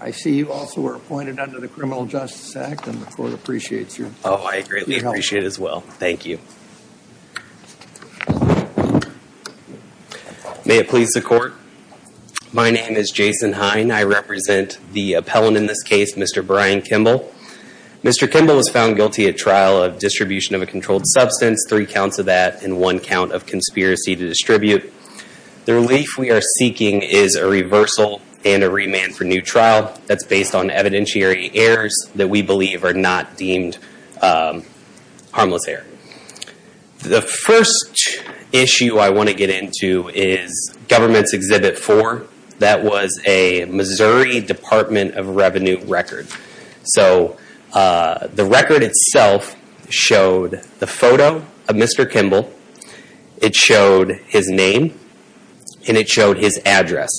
I see you also were appointed under the Criminal Justice Act and the court appreciates you. Oh, I greatly appreciate it as well. Thank you. May it please the court. My name is Jason Hine. I represent the appellant in this case, Mr. Bryan Kimble. Mr. Kimble was found guilty at trial of distribution of a controlled substance, three counts of that and one count of conspiracy to distribute. The relief we are seeking is a reversal and a remand for new trial that's based on evidentiary errors that we believe are not deemed harmless error. The first issue I want to get into is Government's Exhibit 4. That was a Missouri Department of Revenue record. So the record itself showed the photo of Mr. Kimble. It showed his name and it showed his address.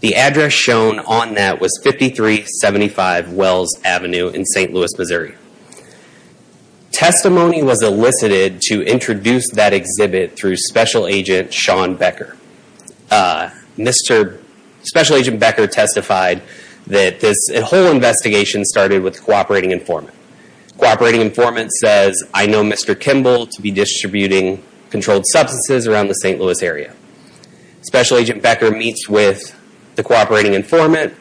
The address shown on that was 5375 Wells Avenue in St. Louis, Missouri. Testimony was elicited to introduce that exhibit through Special Agent Sean Becker. Mr. Special Agent Becker testified that this whole investigation started with a cooperating informant. Cooperating informant says, I know Mr. Kimble to be distributing controlled substances around the St. Louis area. Special Agent Becker meets with the cooperating informant.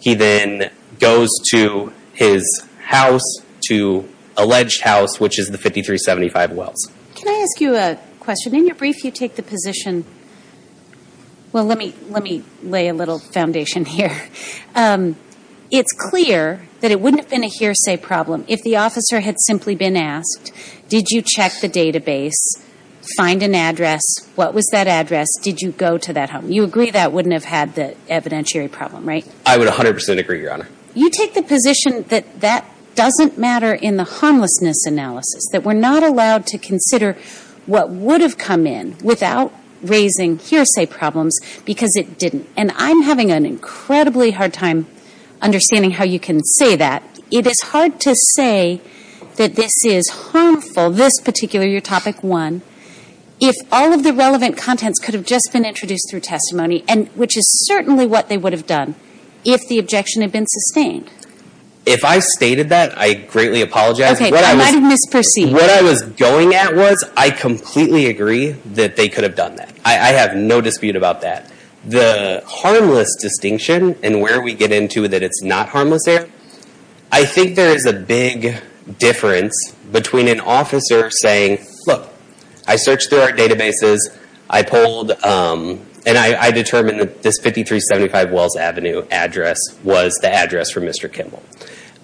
He then goes to his house, to alleged house, which is the 5375 Wells. Can I ask you a question? In your brief, you take the position, well, let me lay a little foundation here. It's clear that it wouldn't have been a hearsay problem if the officer had simply been asked, did you check the database, find an address, what was that address, did you go to that home? You agree that wouldn't have had the evidentiary problem, right? I would 100% agree, Your Honor. You take the position that that doesn't matter in the harmlessness analysis, that we're not allowed to consider what would have come in without raising hearsay problems because it didn't. And I'm having an incredibly hard time understanding how you can say that. It is hard to say that this is harmful, this particular, your topic one, if all of the relevant contents could have just been introduced through testimony, which is certainly what they would have done if the objection had been sustained. If I stated that, I greatly apologize. Okay, I might have misperceived. What I was going at was, I completely agree that they could have done that. I have no dispute about that. The harmless distinction and where we get into that it's not harmless there, I think there is a big difference between an officer saying, look, I searched through our databases, I polled, and I determined that this 5375 Wells Avenue address was the address for Mr. Kimball.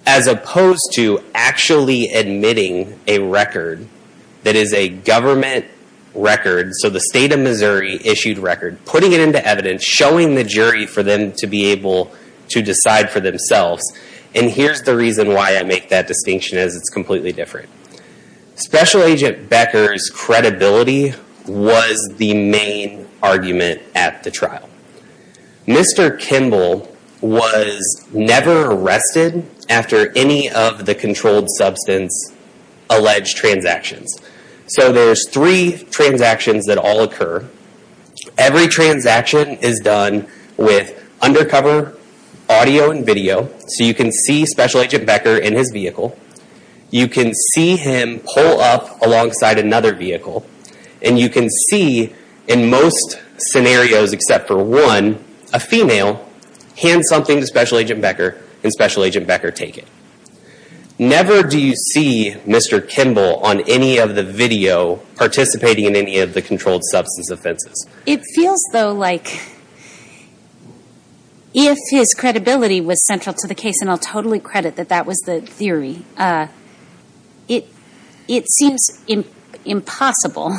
As opposed to actually admitting a record that is a government record, so the state of Missouri issued record, putting it into evidence, showing the jury for them to be able to decide for themselves. And here's the reason why I make that distinction as it's completely different. Special Agent Becker's credibility was the main argument at the trial. Mr. Kimball was never arrested after any of the controlled substance alleged transactions. So there's three transactions that all occur. Every transaction is done with undercover audio and video, so you can see Special Agent Becker in his vehicle. You can see him pull up alongside another vehicle. And you can see, in most scenarios except for one, a female, hand something to Special Agent Becker, and Special Agent Becker take it. Never do you see Mr. Kimball on any of the video participating in any of the controlled substance offenses. It feels, though, like if his credibility was central to the case, and I'll totally credit that that was the theory, it seems impossible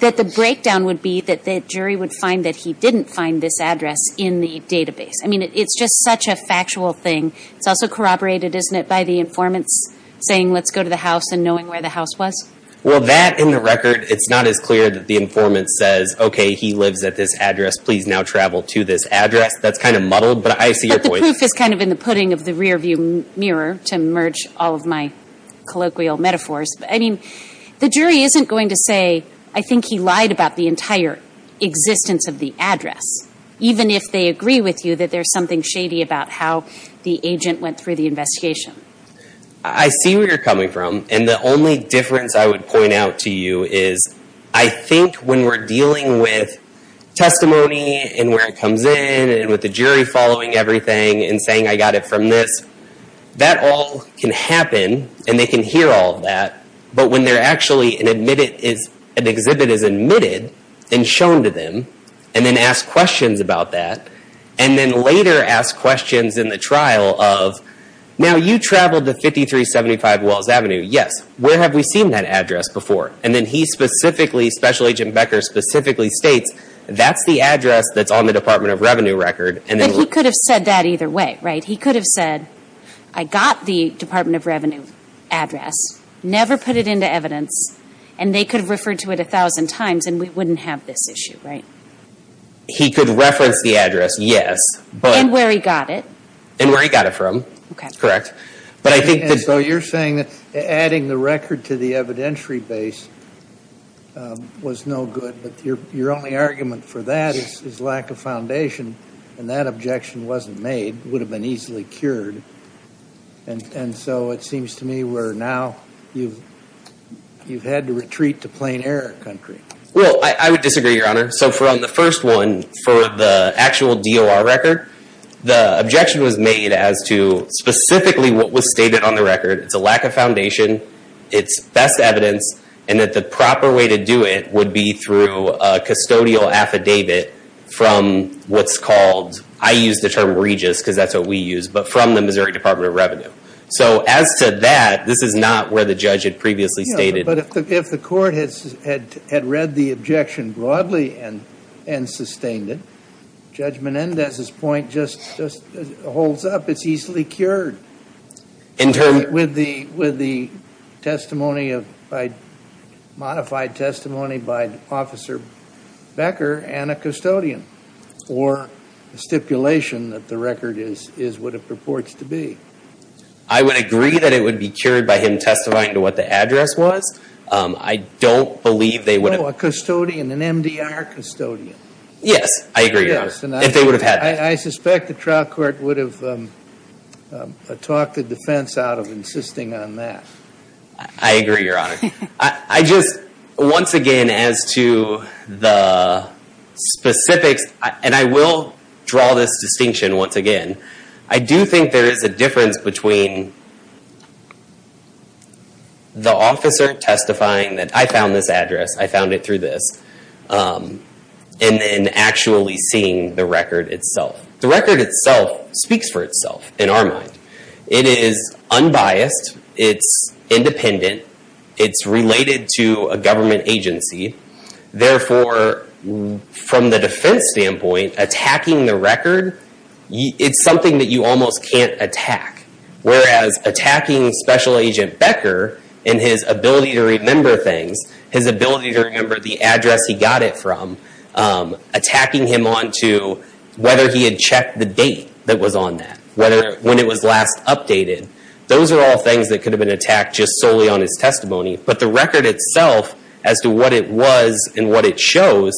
that the breakdown would be that the jury would find that he didn't find this address in the database. I mean, it's just such a factual thing. It's also corroborated, isn't it, by the informants saying, let's go to the house and knowing where the house was? Well, that, in the record, it's not as clear that the informant says, okay, he lives at this address, please now travel to this address. That's kind of muddled, but I see your point. But the proof is kind of in the pudding of the rearview mirror to merge all of my colloquial metaphors. But I mean, the jury isn't going to say, I think he lied about the entire existence of the address. Even if they agree with you that there's something shady about how the agent went through the investigation. I see where you're coming from. And the only difference I would point out to you is I think when we're dealing with testimony and where it comes in and with the jury following everything and saying I got it from this, that all can happen and they can hear all of that. But when they're actually an exhibit is admitted and shown to them and then ask questions about that and then later ask questions in the trial of, now you traveled to 5375 Wells Avenue, yes. Where have we seen that address before? And then he specifically, Special Agent Becker specifically states, that's the address that's on the Department of Revenue record. And then we. But he could have said that either way, right? He could have said, I got the Department of Revenue address, never put it into evidence, and they could have referred to it a thousand times and we wouldn't have this issue, right? He could reference the address, yes. But. And where he got it. And where he got it from. Okay. Correct. But I think that. So you're saying that adding the record to the evidentiary base was no good. But your only argument for that is lack of foundation. And that objection wasn't made, would have been easily cured. And so it seems to me we're now, you've had to retreat to plain error country. Well, I would disagree, Your Honor. So from the first one, for the actual DOR record, the objection was made as to specifically what was stated on the record. It's a lack of foundation. It's best evidence. And that the proper way to do it would be through a custodial affidavit from what's called, I use the term regis because that's what we use, but from the Missouri Department of Revenue. So as to that, this is not where the judge had previously stated. No, but if the court had read the objection broadly and sustained it, Judge Menendez's point just holds up. It's easily cured. In terms. With the testimony of, modified testimony by Officer Becker and a custodian. Or a stipulation that the record is what it purports to be. I would agree that it would be cured by him testifying to what the address was. I don't believe they would have. Oh, a custodian, an MDR custodian. Yes, I agree, Your Honor, if they would have had that. I suspect the trial court would have talked the defense out of insisting on that. I agree, Your Honor. I just, once again, as to the specifics, and I will draw this distinction once again. I do think there is a difference between the officer testifying that I found this address, I found it through this, and then actually seeing the record itself. The record itself speaks for itself in our mind. It is unbiased. It's independent. It's related to a government agency. Therefore, from the defense standpoint, attacking the record, it's something that you almost can't attack. Whereas, attacking Special Agent Becker and his ability to remember things, his ability to remember the address he got it from, attacking him onto whether he had checked the date that was on that, whether, when it was last updated. Those are all things that could have been attacked just solely on his testimony. But the record itself, as to what it was and what it shows,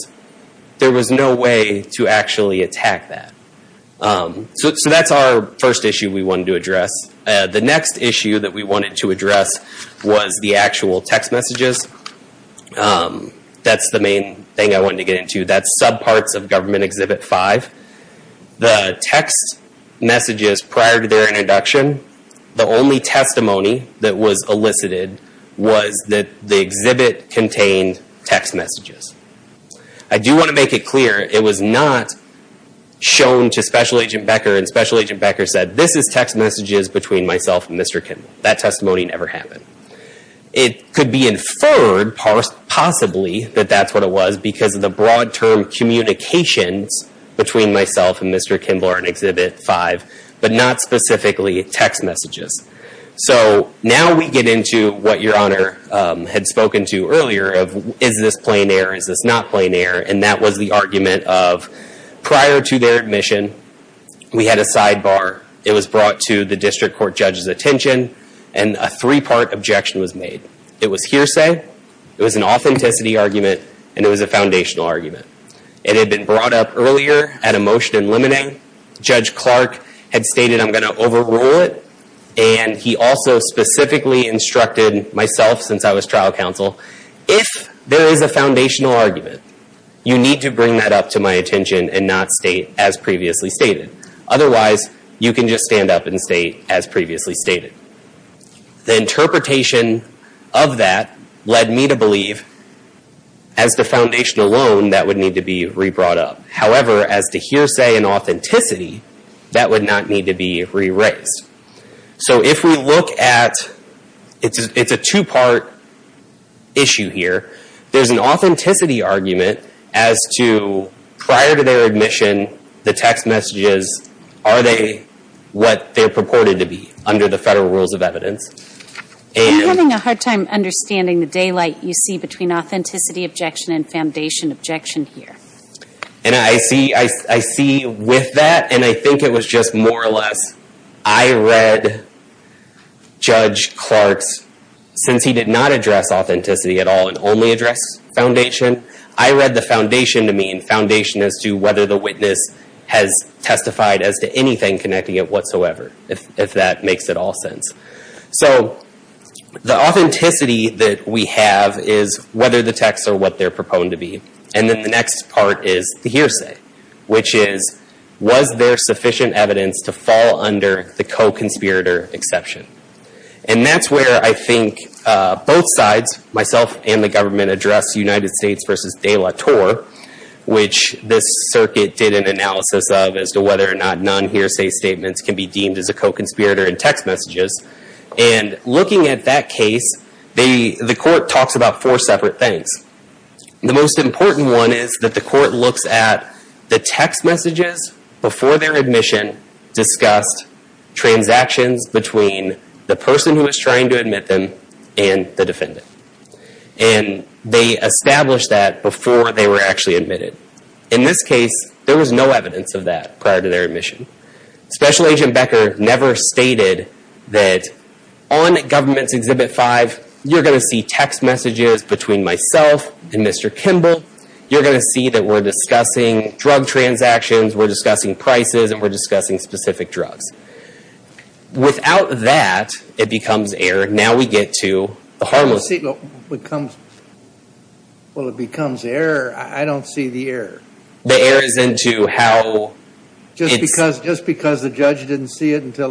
there was no way to actually attack that. So that's our first issue we wanted to address. The next issue that we wanted to address was the actual text messages. That's the main thing I wanted to get into. That's subparts of Government Exhibit 5. The text messages prior to their introduction, the only testimony that was elicited was that the exhibit contained text messages. I do want to make it clear, it was not shown to Special Agent Becker, and Special Agent Becker said, this is text messages between myself and Mr. Kimmel. That testimony never happened. It could be inferred, possibly, that that's what it was, because of the broad-term communications between myself and Mr. Kimmel are in Exhibit 5, but not specifically text messages. So now we get into what Your Honor had spoken to earlier of, is this plain air, is this not plain air? And that was the argument of, prior to their admission, we had a sidebar. It was brought to the District Court Judge's attention, and a three-part objection was made. It was hearsay, it was an authenticity argument, and it was a foundational argument. It had been brought up earlier at a motion in limine. Judge Clark had stated, I'm going to overrule it, and he also specifically instructed myself, since I was trial counsel, if there is a foundational argument, you need to bring that up to my attention and not state, as previously stated. Otherwise, you can just stand up and state, as previously stated. The interpretation of that led me to believe, as the foundation alone, that would need to be re-brought up. However, as to hearsay and authenticity, that would not need to be re-raised. So if we look at, it's a two-part issue here. There's an authenticity argument as to, prior to their admission, the text messages, are they what they're purported to be, under the federal rules of evidence? And- I'm having a hard time understanding the daylight you see between authenticity objection and foundation objection here. And I see with that, and I think it was just more or less, I read Judge Clark's, since he did not address authenticity at all and only addressed foundation, I read the foundation to me, and foundation as to whether the witness has testified as to anything connecting it whatsoever, if that makes at all sense. So, the authenticity that we have is whether the texts are what they're proposed to be. And then the next part is the hearsay. Which is, was there sufficient evidence to fall under the co-conspirator exception? And that's where I think both sides, myself and the government, address United States versus De La Torre, which this circuit did an analysis of as to whether or not non-hearsay statements can be deemed as a co-conspirator in text messages. And looking at that case, the court talks about four separate things. The most important one is that the court looks at the text messages before their admission, discussed transactions between the person who was trying to admit them and the defendant. And they established that before they were actually admitted. In this case, there was no evidence of that prior to their admission. Special Agent Becker never stated that on Government's Exhibit 5, you're going to see text messages between myself and Mr. Kimball, you're going to see that we're discussing drug transactions, we're discussing prices, and we're discussing specific drugs. Without that, it becomes error. Now we get to the harmless- Well, it becomes error. I don't see the error. The error is into how- Just because the judge didn't see it until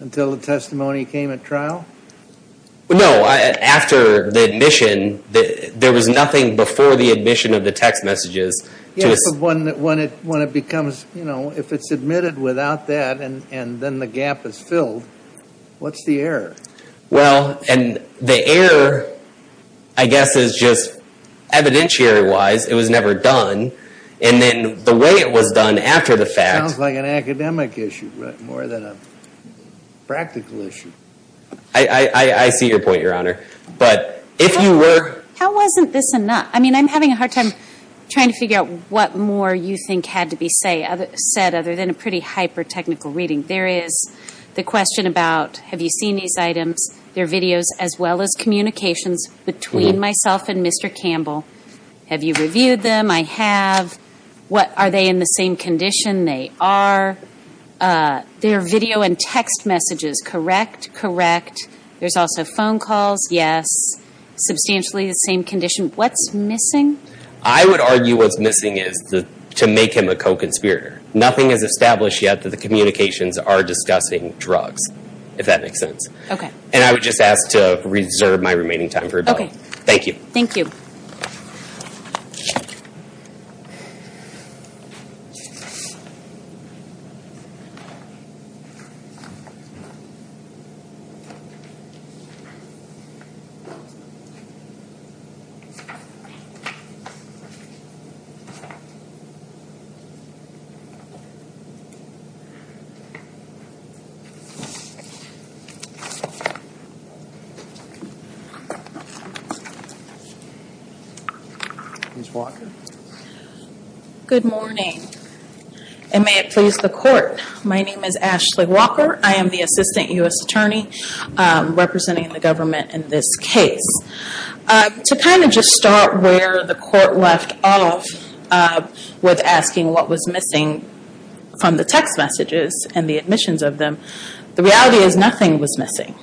the testimony came at trial? No, after the admission, there was nothing before the admission of the text messages. Yes, but when it becomes, you know, if it's admitted without that, and then the gap is filled, what's the error? Well, and the error, I guess, is just evidentiary-wise, it was never done. And then the way it was done after the fact- Sounds like an academic issue, more than a practical issue. I see your point, Your Honor. But if you were- How wasn't this enough? I mean, I'm having a hard time trying to figure out what more you think had to be said, other than a pretty hyper-technical reading. There is the question about, have you seen these items? They're videos, as well as communications between myself and Mr. Campbell. Have you reviewed them? I have. What, are they in the same condition? They are. They're video and text messages, correct? Correct. There's also phone calls? Yes. Substantially the same condition? What's missing? I would argue what's missing is to make him a co-conspirator. Nothing is established yet that the communications are discussing drugs, if that makes sense. Okay. And I would just ask to reserve my remaining time for rebuttal. Okay. Thank you. Thank you. Ms. Walker? Good morning. And may it please the court, my name is Ashley Walker. I am the Assistant U.S. Attorney representing the government in this case. To kind of just start where the court left off with asking what was missing from the text messages and the admissions of them, the reality is nothing was missing.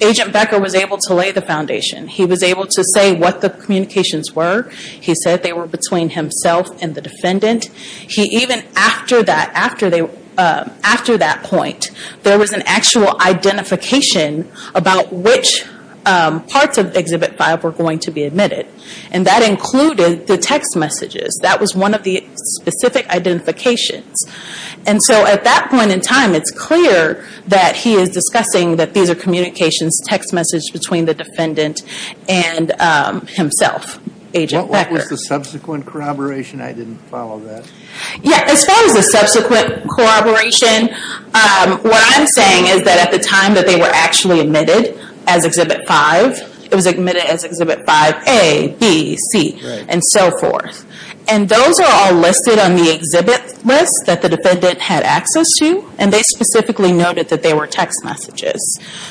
Agent Becker was able to lay the foundation. He was able to say what the communications were. And he even after that point, there was an actual identification about which parts of Exhibit 5 were going to be admitted. And that included the text messages. That was one of the specific identifications. And so at that point in time, it's clear that he is discussing that these are communications, text messages between the defendant and himself, Agent Becker. What was the subsequent corroboration? I didn't follow that. Yeah. As far as the subsequent corroboration, what I'm saying is that at the time that they were actually admitted as Exhibit 5, it was admitted as Exhibit 5A, B, C, and so forth. And those are all listed on the exhibit list that the defendant had access to. And they specifically noted that they were text messages.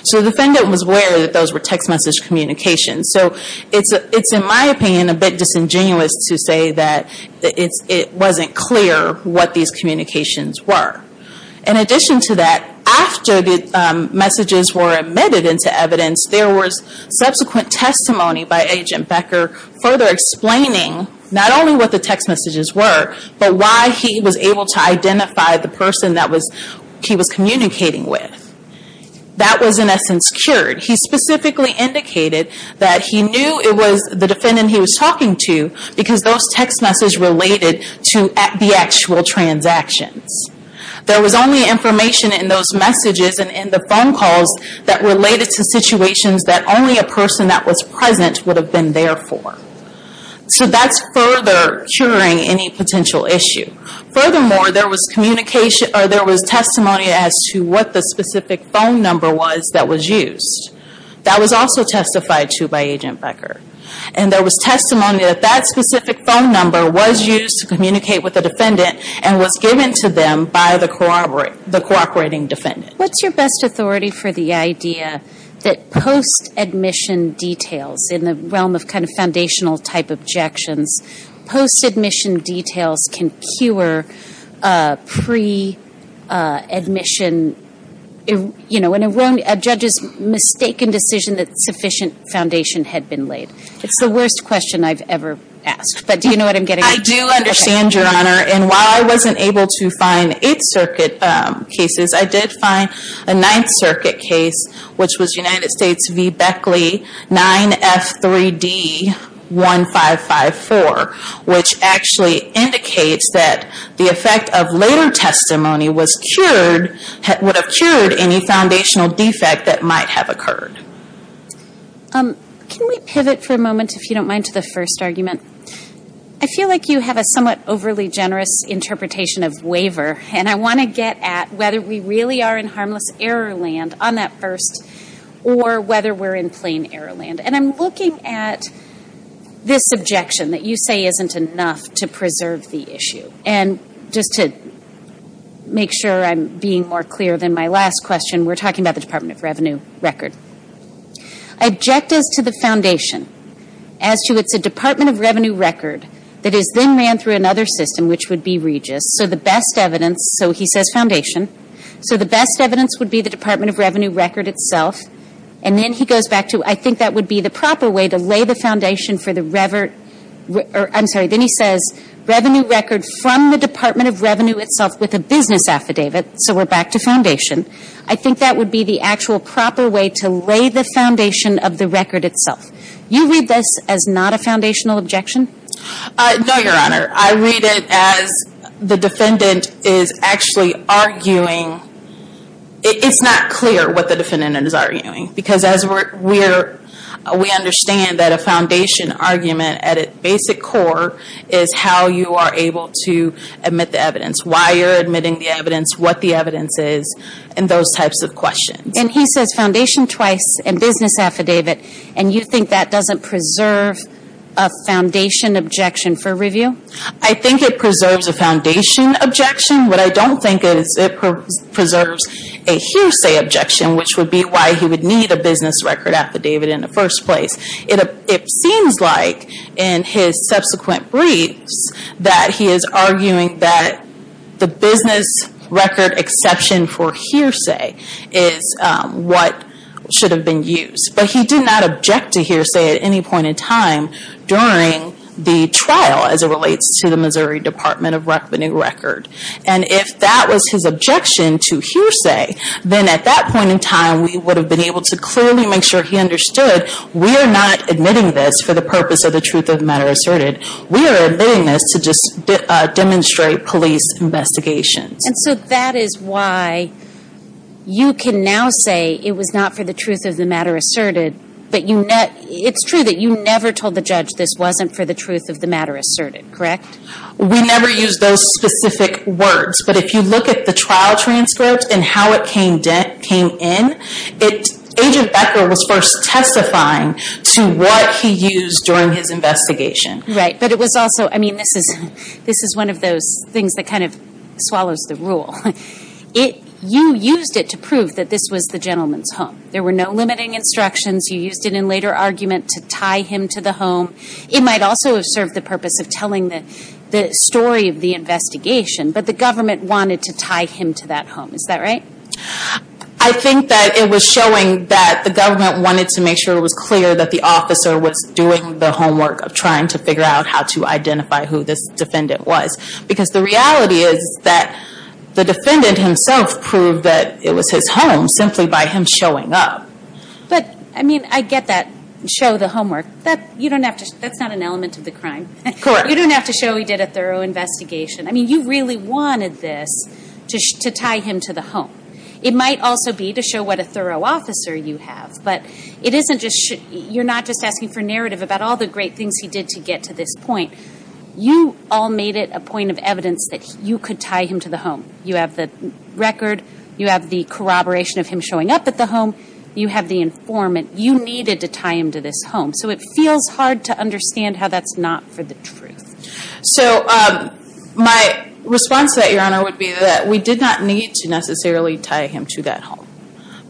So the defendant was aware that those were text message communications. So it's, in my opinion, a bit disingenuous to say that it wasn't clear what these communications were. In addition to that, after the messages were admitted into evidence, there was subsequent testimony by Agent Becker further explaining not only what the text messages were, but why he was able to identify the person that he was communicating with. That was in essence cured. He specifically indicated that he knew it was the defendant he was talking to because those text messages related to the actual transactions. There was only information in those messages and in the phone calls that related to situations that only a person that was present would have been there for. So that's further curing any potential issue. Furthermore, there was testimony as to what the specific phone number was that was used. That was also testified to by Agent Becker. And there was testimony that that specific phone number was used to communicate with the defendant and was given to them by the cooperating defendant. What's your best authority for the idea that post-admission details, in the realm of kind of foundational type objections, post-admission details can cure pre-admission, you know, a judge's mistaken decision that sufficient foundation had been laid? It's the worst question I've ever asked, but do you know what I'm getting at? I do understand, Your Honor, and while I wasn't able to find Eighth Circuit cases, I did find a Ninth Circuit case, which was United States v. Beckley, 9F3D1554, which actually indicates that the effect of later testimony would have cured any foundational defect that might have occurred. Can we pivot for a moment, if you don't mind, to the first argument? I feel like you have a somewhat overly generous interpretation of waiver, and I want to get at whether we really are in harmless error land on that first, or whether we're in plain error land. And I'm looking at this objection that you say isn't enough to preserve the issue. And just to make sure I'm being more clear than my last question, we're talking about the Department of Revenue record. Objectives to the foundation, as to it's a Department of Revenue record that is then ran through another system, which would be Regis, so the best evidence, so he says foundation, so the best evidence would be the Department of Revenue record itself, and then he goes back to, I think that would be the proper way to lay the foundation for the revert or, I'm sorry, then he says revenue record from the Department of Revenue itself with a business affidavit, so we're back to foundation. I think that would be the actual proper way to lay the foundation of the record itself. You read this as not a foundational objection? No, Your Honor. I read it as the defendant is actually arguing, it's not clear what the defendant is arguing, because as we understand that a foundation argument at its basic core is how you are able to admit the evidence, why you're admitting the evidence, what the evidence is, and those types of questions. And he says foundation twice and business affidavit, and you think that doesn't preserve a foundation objection for review? I think it preserves a foundation objection, what I don't think is it preserves a hearsay objection, which would be why he would need a business record affidavit in the first place. It seems like in his subsequent briefs that he is arguing that the business record exception for hearsay is what should have been used, but he did not object to hearsay at any point in time during the trial as it relates to the Missouri Department of Revenue record. And if that was his objection to hearsay, then at that point in time we would have been able to clearly make sure he understood we are not admitting this for the purpose of the truth of the matter asserted, we are admitting this to just demonstrate police investigations. And so that is why you can now say it was not for the truth of the matter asserted, but it's true that you never told the judge this wasn't for the truth of the matter asserted, correct? We never used those specific words, but if you look at the trial transcript and how it came in, Agent Becker was first testifying to what he used during his investigation. Right, but it was also, I mean this is one of those things that kind of swallows the rule. You used it to prove that this was the gentleman's home. There were no limiting instructions, you used it in later argument to tie him to the home. It might also have served the purpose of telling the story of the investigation, but the government wanted to tie him to that home, is that right? I think that it was showing that the government wanted to make sure it was clear that the officer was doing the homework of trying to figure out how to identify who this defendant was. Because the reality is that the defendant himself proved that it was his home simply by him showing up. But, I mean, I get that, show the homework. That's not an element of the crime. You don't have to show he did a thorough investigation. I mean, you really wanted this to tie him to the home. It might also be to show what a thorough officer you have, but you're not just asking for narrative about all the great things he did to get to this point. You all made it a point of evidence that you could tie him to the home. You have the record, you have the corroboration of him showing up at the home, you have the informant. You needed to tie him to this home. So it feels hard to understand how that's not for the truth. So my response to that, Your Honor, would be that we did not need to necessarily tie him to that home.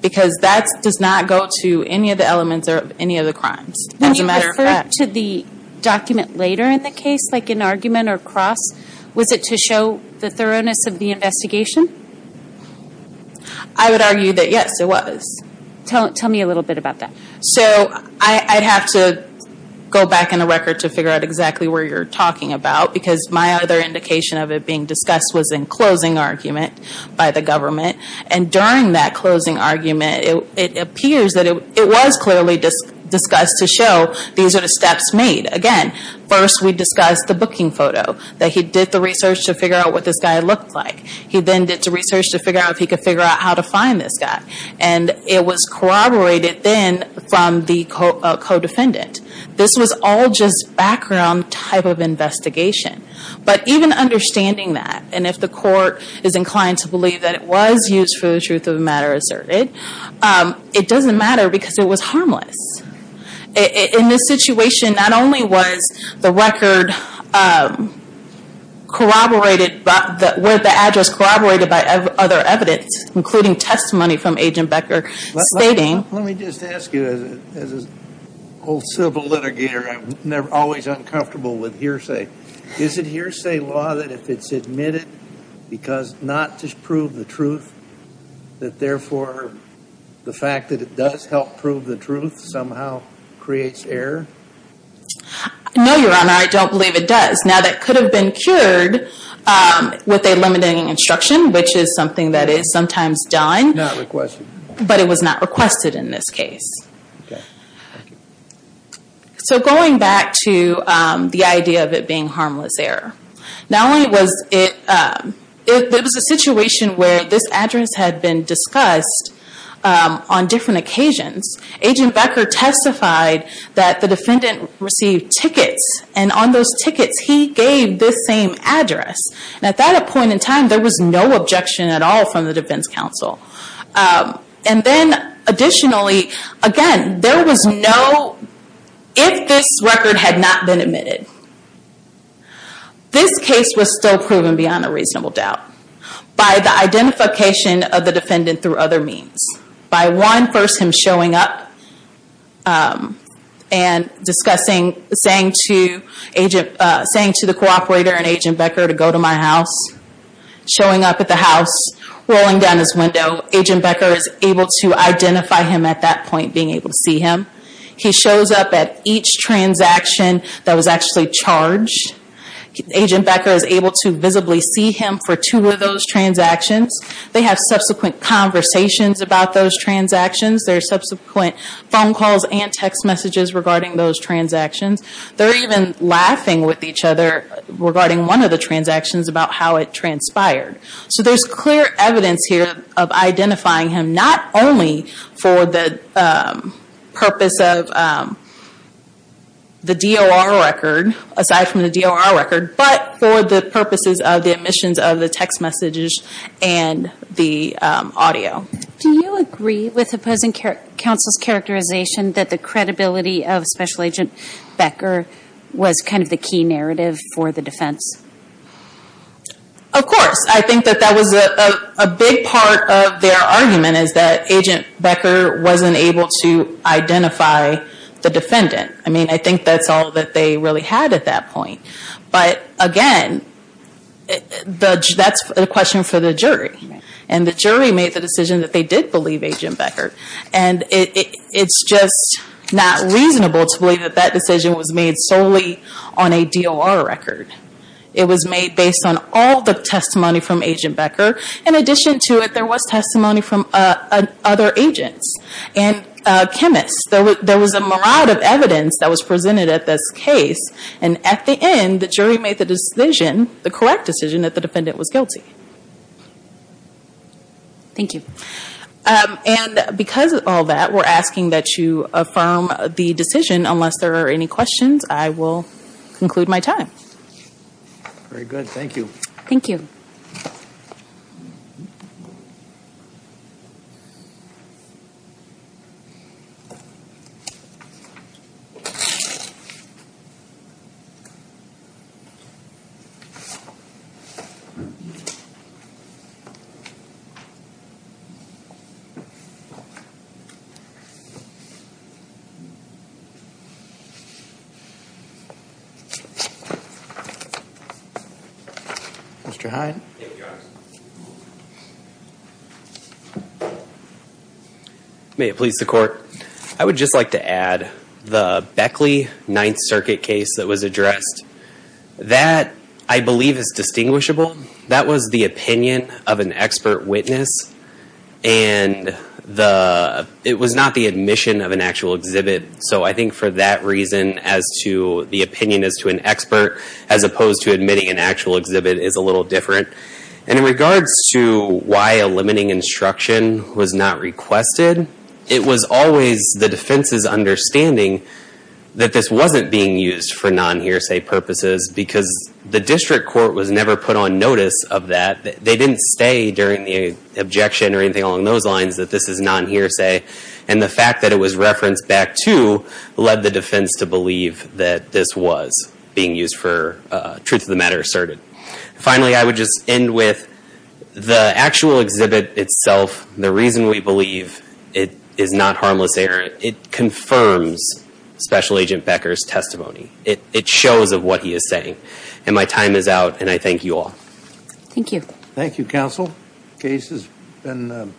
Because that does not go to any of the elements of any of the crimes. When you referred to the document later in the case, like an argument or cross, was it to show the thoroughness of the investigation? I would argue that yes, it was. Tell me a little bit about that. So I'd have to go back in the record to figure out exactly where you're talking about. Because my other indication of it being discussed was in closing argument by the government. And during that closing argument, it appears that it was clearly discussed to show these were the steps made. Again, first we discussed the booking photo. That he did the research to figure out what this guy looked like. He then did the research to figure out if he was corroborated then from the co-defendant. This was all just background type of investigation. But even understanding that, and if the court is inclined to believe that it was used for the truth of the matter asserted, it doesn't matter because it was harmless. In this situation, not only was the record corroborated, were the address corroborated by other evidence, including testimony from Agent Becker stating... Let me just ask you, as an old civil litigator, I'm always uncomfortable with hearsay. Is it hearsay law that if it's admitted because not to prove the truth, that therefore the fact that it does help prove the truth somehow creates error? No, Your Honor, I don't believe it does. Now that could have been cured with a limiting instruction, which is something that is sometimes done, but it was not requested in this case. Going back to the idea of it being harmless error, it was a situation where this address had been discussed on different occasions. Agent Becker testified that the defendant received tickets, and on those tickets he gave this same address. At that point in time, there was no objection at all from the defense counsel. Then additionally, again, if this record had not been admitted, this case was still proven beyond a reasonable doubt by the identification of the defendant through other means. By one, first him showing up and saying to the cooperator and Agent Becker to go to my house, and then showing up at the house, rolling down his window, Agent Becker is able to identify him at that point, being able to see him. He shows up at each transaction that was actually charged. Agent Becker is able to visibly see him for two of those transactions. They have subsequent conversations about those transactions. There are subsequent phone calls and text messages regarding those transactions. They're even laughing with each other regarding one of the transactions about how it transpired. There's clear evidence here of identifying him not only for the purpose of the DOR record, aside from the DOR record, but for the purposes of the admissions of the text messages and the audio. Do you agree with opposing counsel's characterization that the credibility of Special Agent Becker was kind of the key narrative for the defense? Of course. I think that that was a big part of their argument, is that Agent Becker wasn't able to identify the defendant. I think that's all that they really had at that point. Again, that's a question for the jury. The jury made the decision that they did believe Agent Becker. It's just not reasonable to believe that that was made solely on a DOR record. It was made based on all the testimony from Agent Becker. In addition to it, there was testimony from other agents and chemists. There was a myriad of evidence that was presented at this case. At the end, the jury made the correct decision that the defendant was guilty. Thank you. Because of all that, we're asking that you affirm the decision. Unless there are any questions, I will conclude my time. Very good. Thank you. Thank you. Mr. Hyde. Thank you, Your Honor. May it please the Court, I would just like to add the Beckley Ninth Circuit case that was addressed. That, I believe, is distinguishable. That was the opinion of an expert witness. It was not the admission of an actual exhibit. So I think for that reason, the opinion as to an expert as opposed to admitting an actual exhibit is a little different. In regards to why a limiting instruction was not requested, it was always the defense's understanding that this wasn't being used for non-hearsay purposes because the district court was never put on notice of that. They didn't stay during the objection or anything along those lines that this is non-hearsay. And the fact that it was referenced back to led the defense to believe that this was being used for truth of the matter asserted. Finally, I would just end with the actual exhibit itself, the reason we believe it is not harmless error, it confirms Special Agent Becker's testimony. It shows of what he is saying. And my time is out, and I thank you all. Thank you. Thank you, counsel. Case has been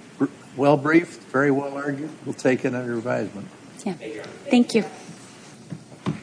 well briefed, very well argued. We'll take it under advisement. Thank you.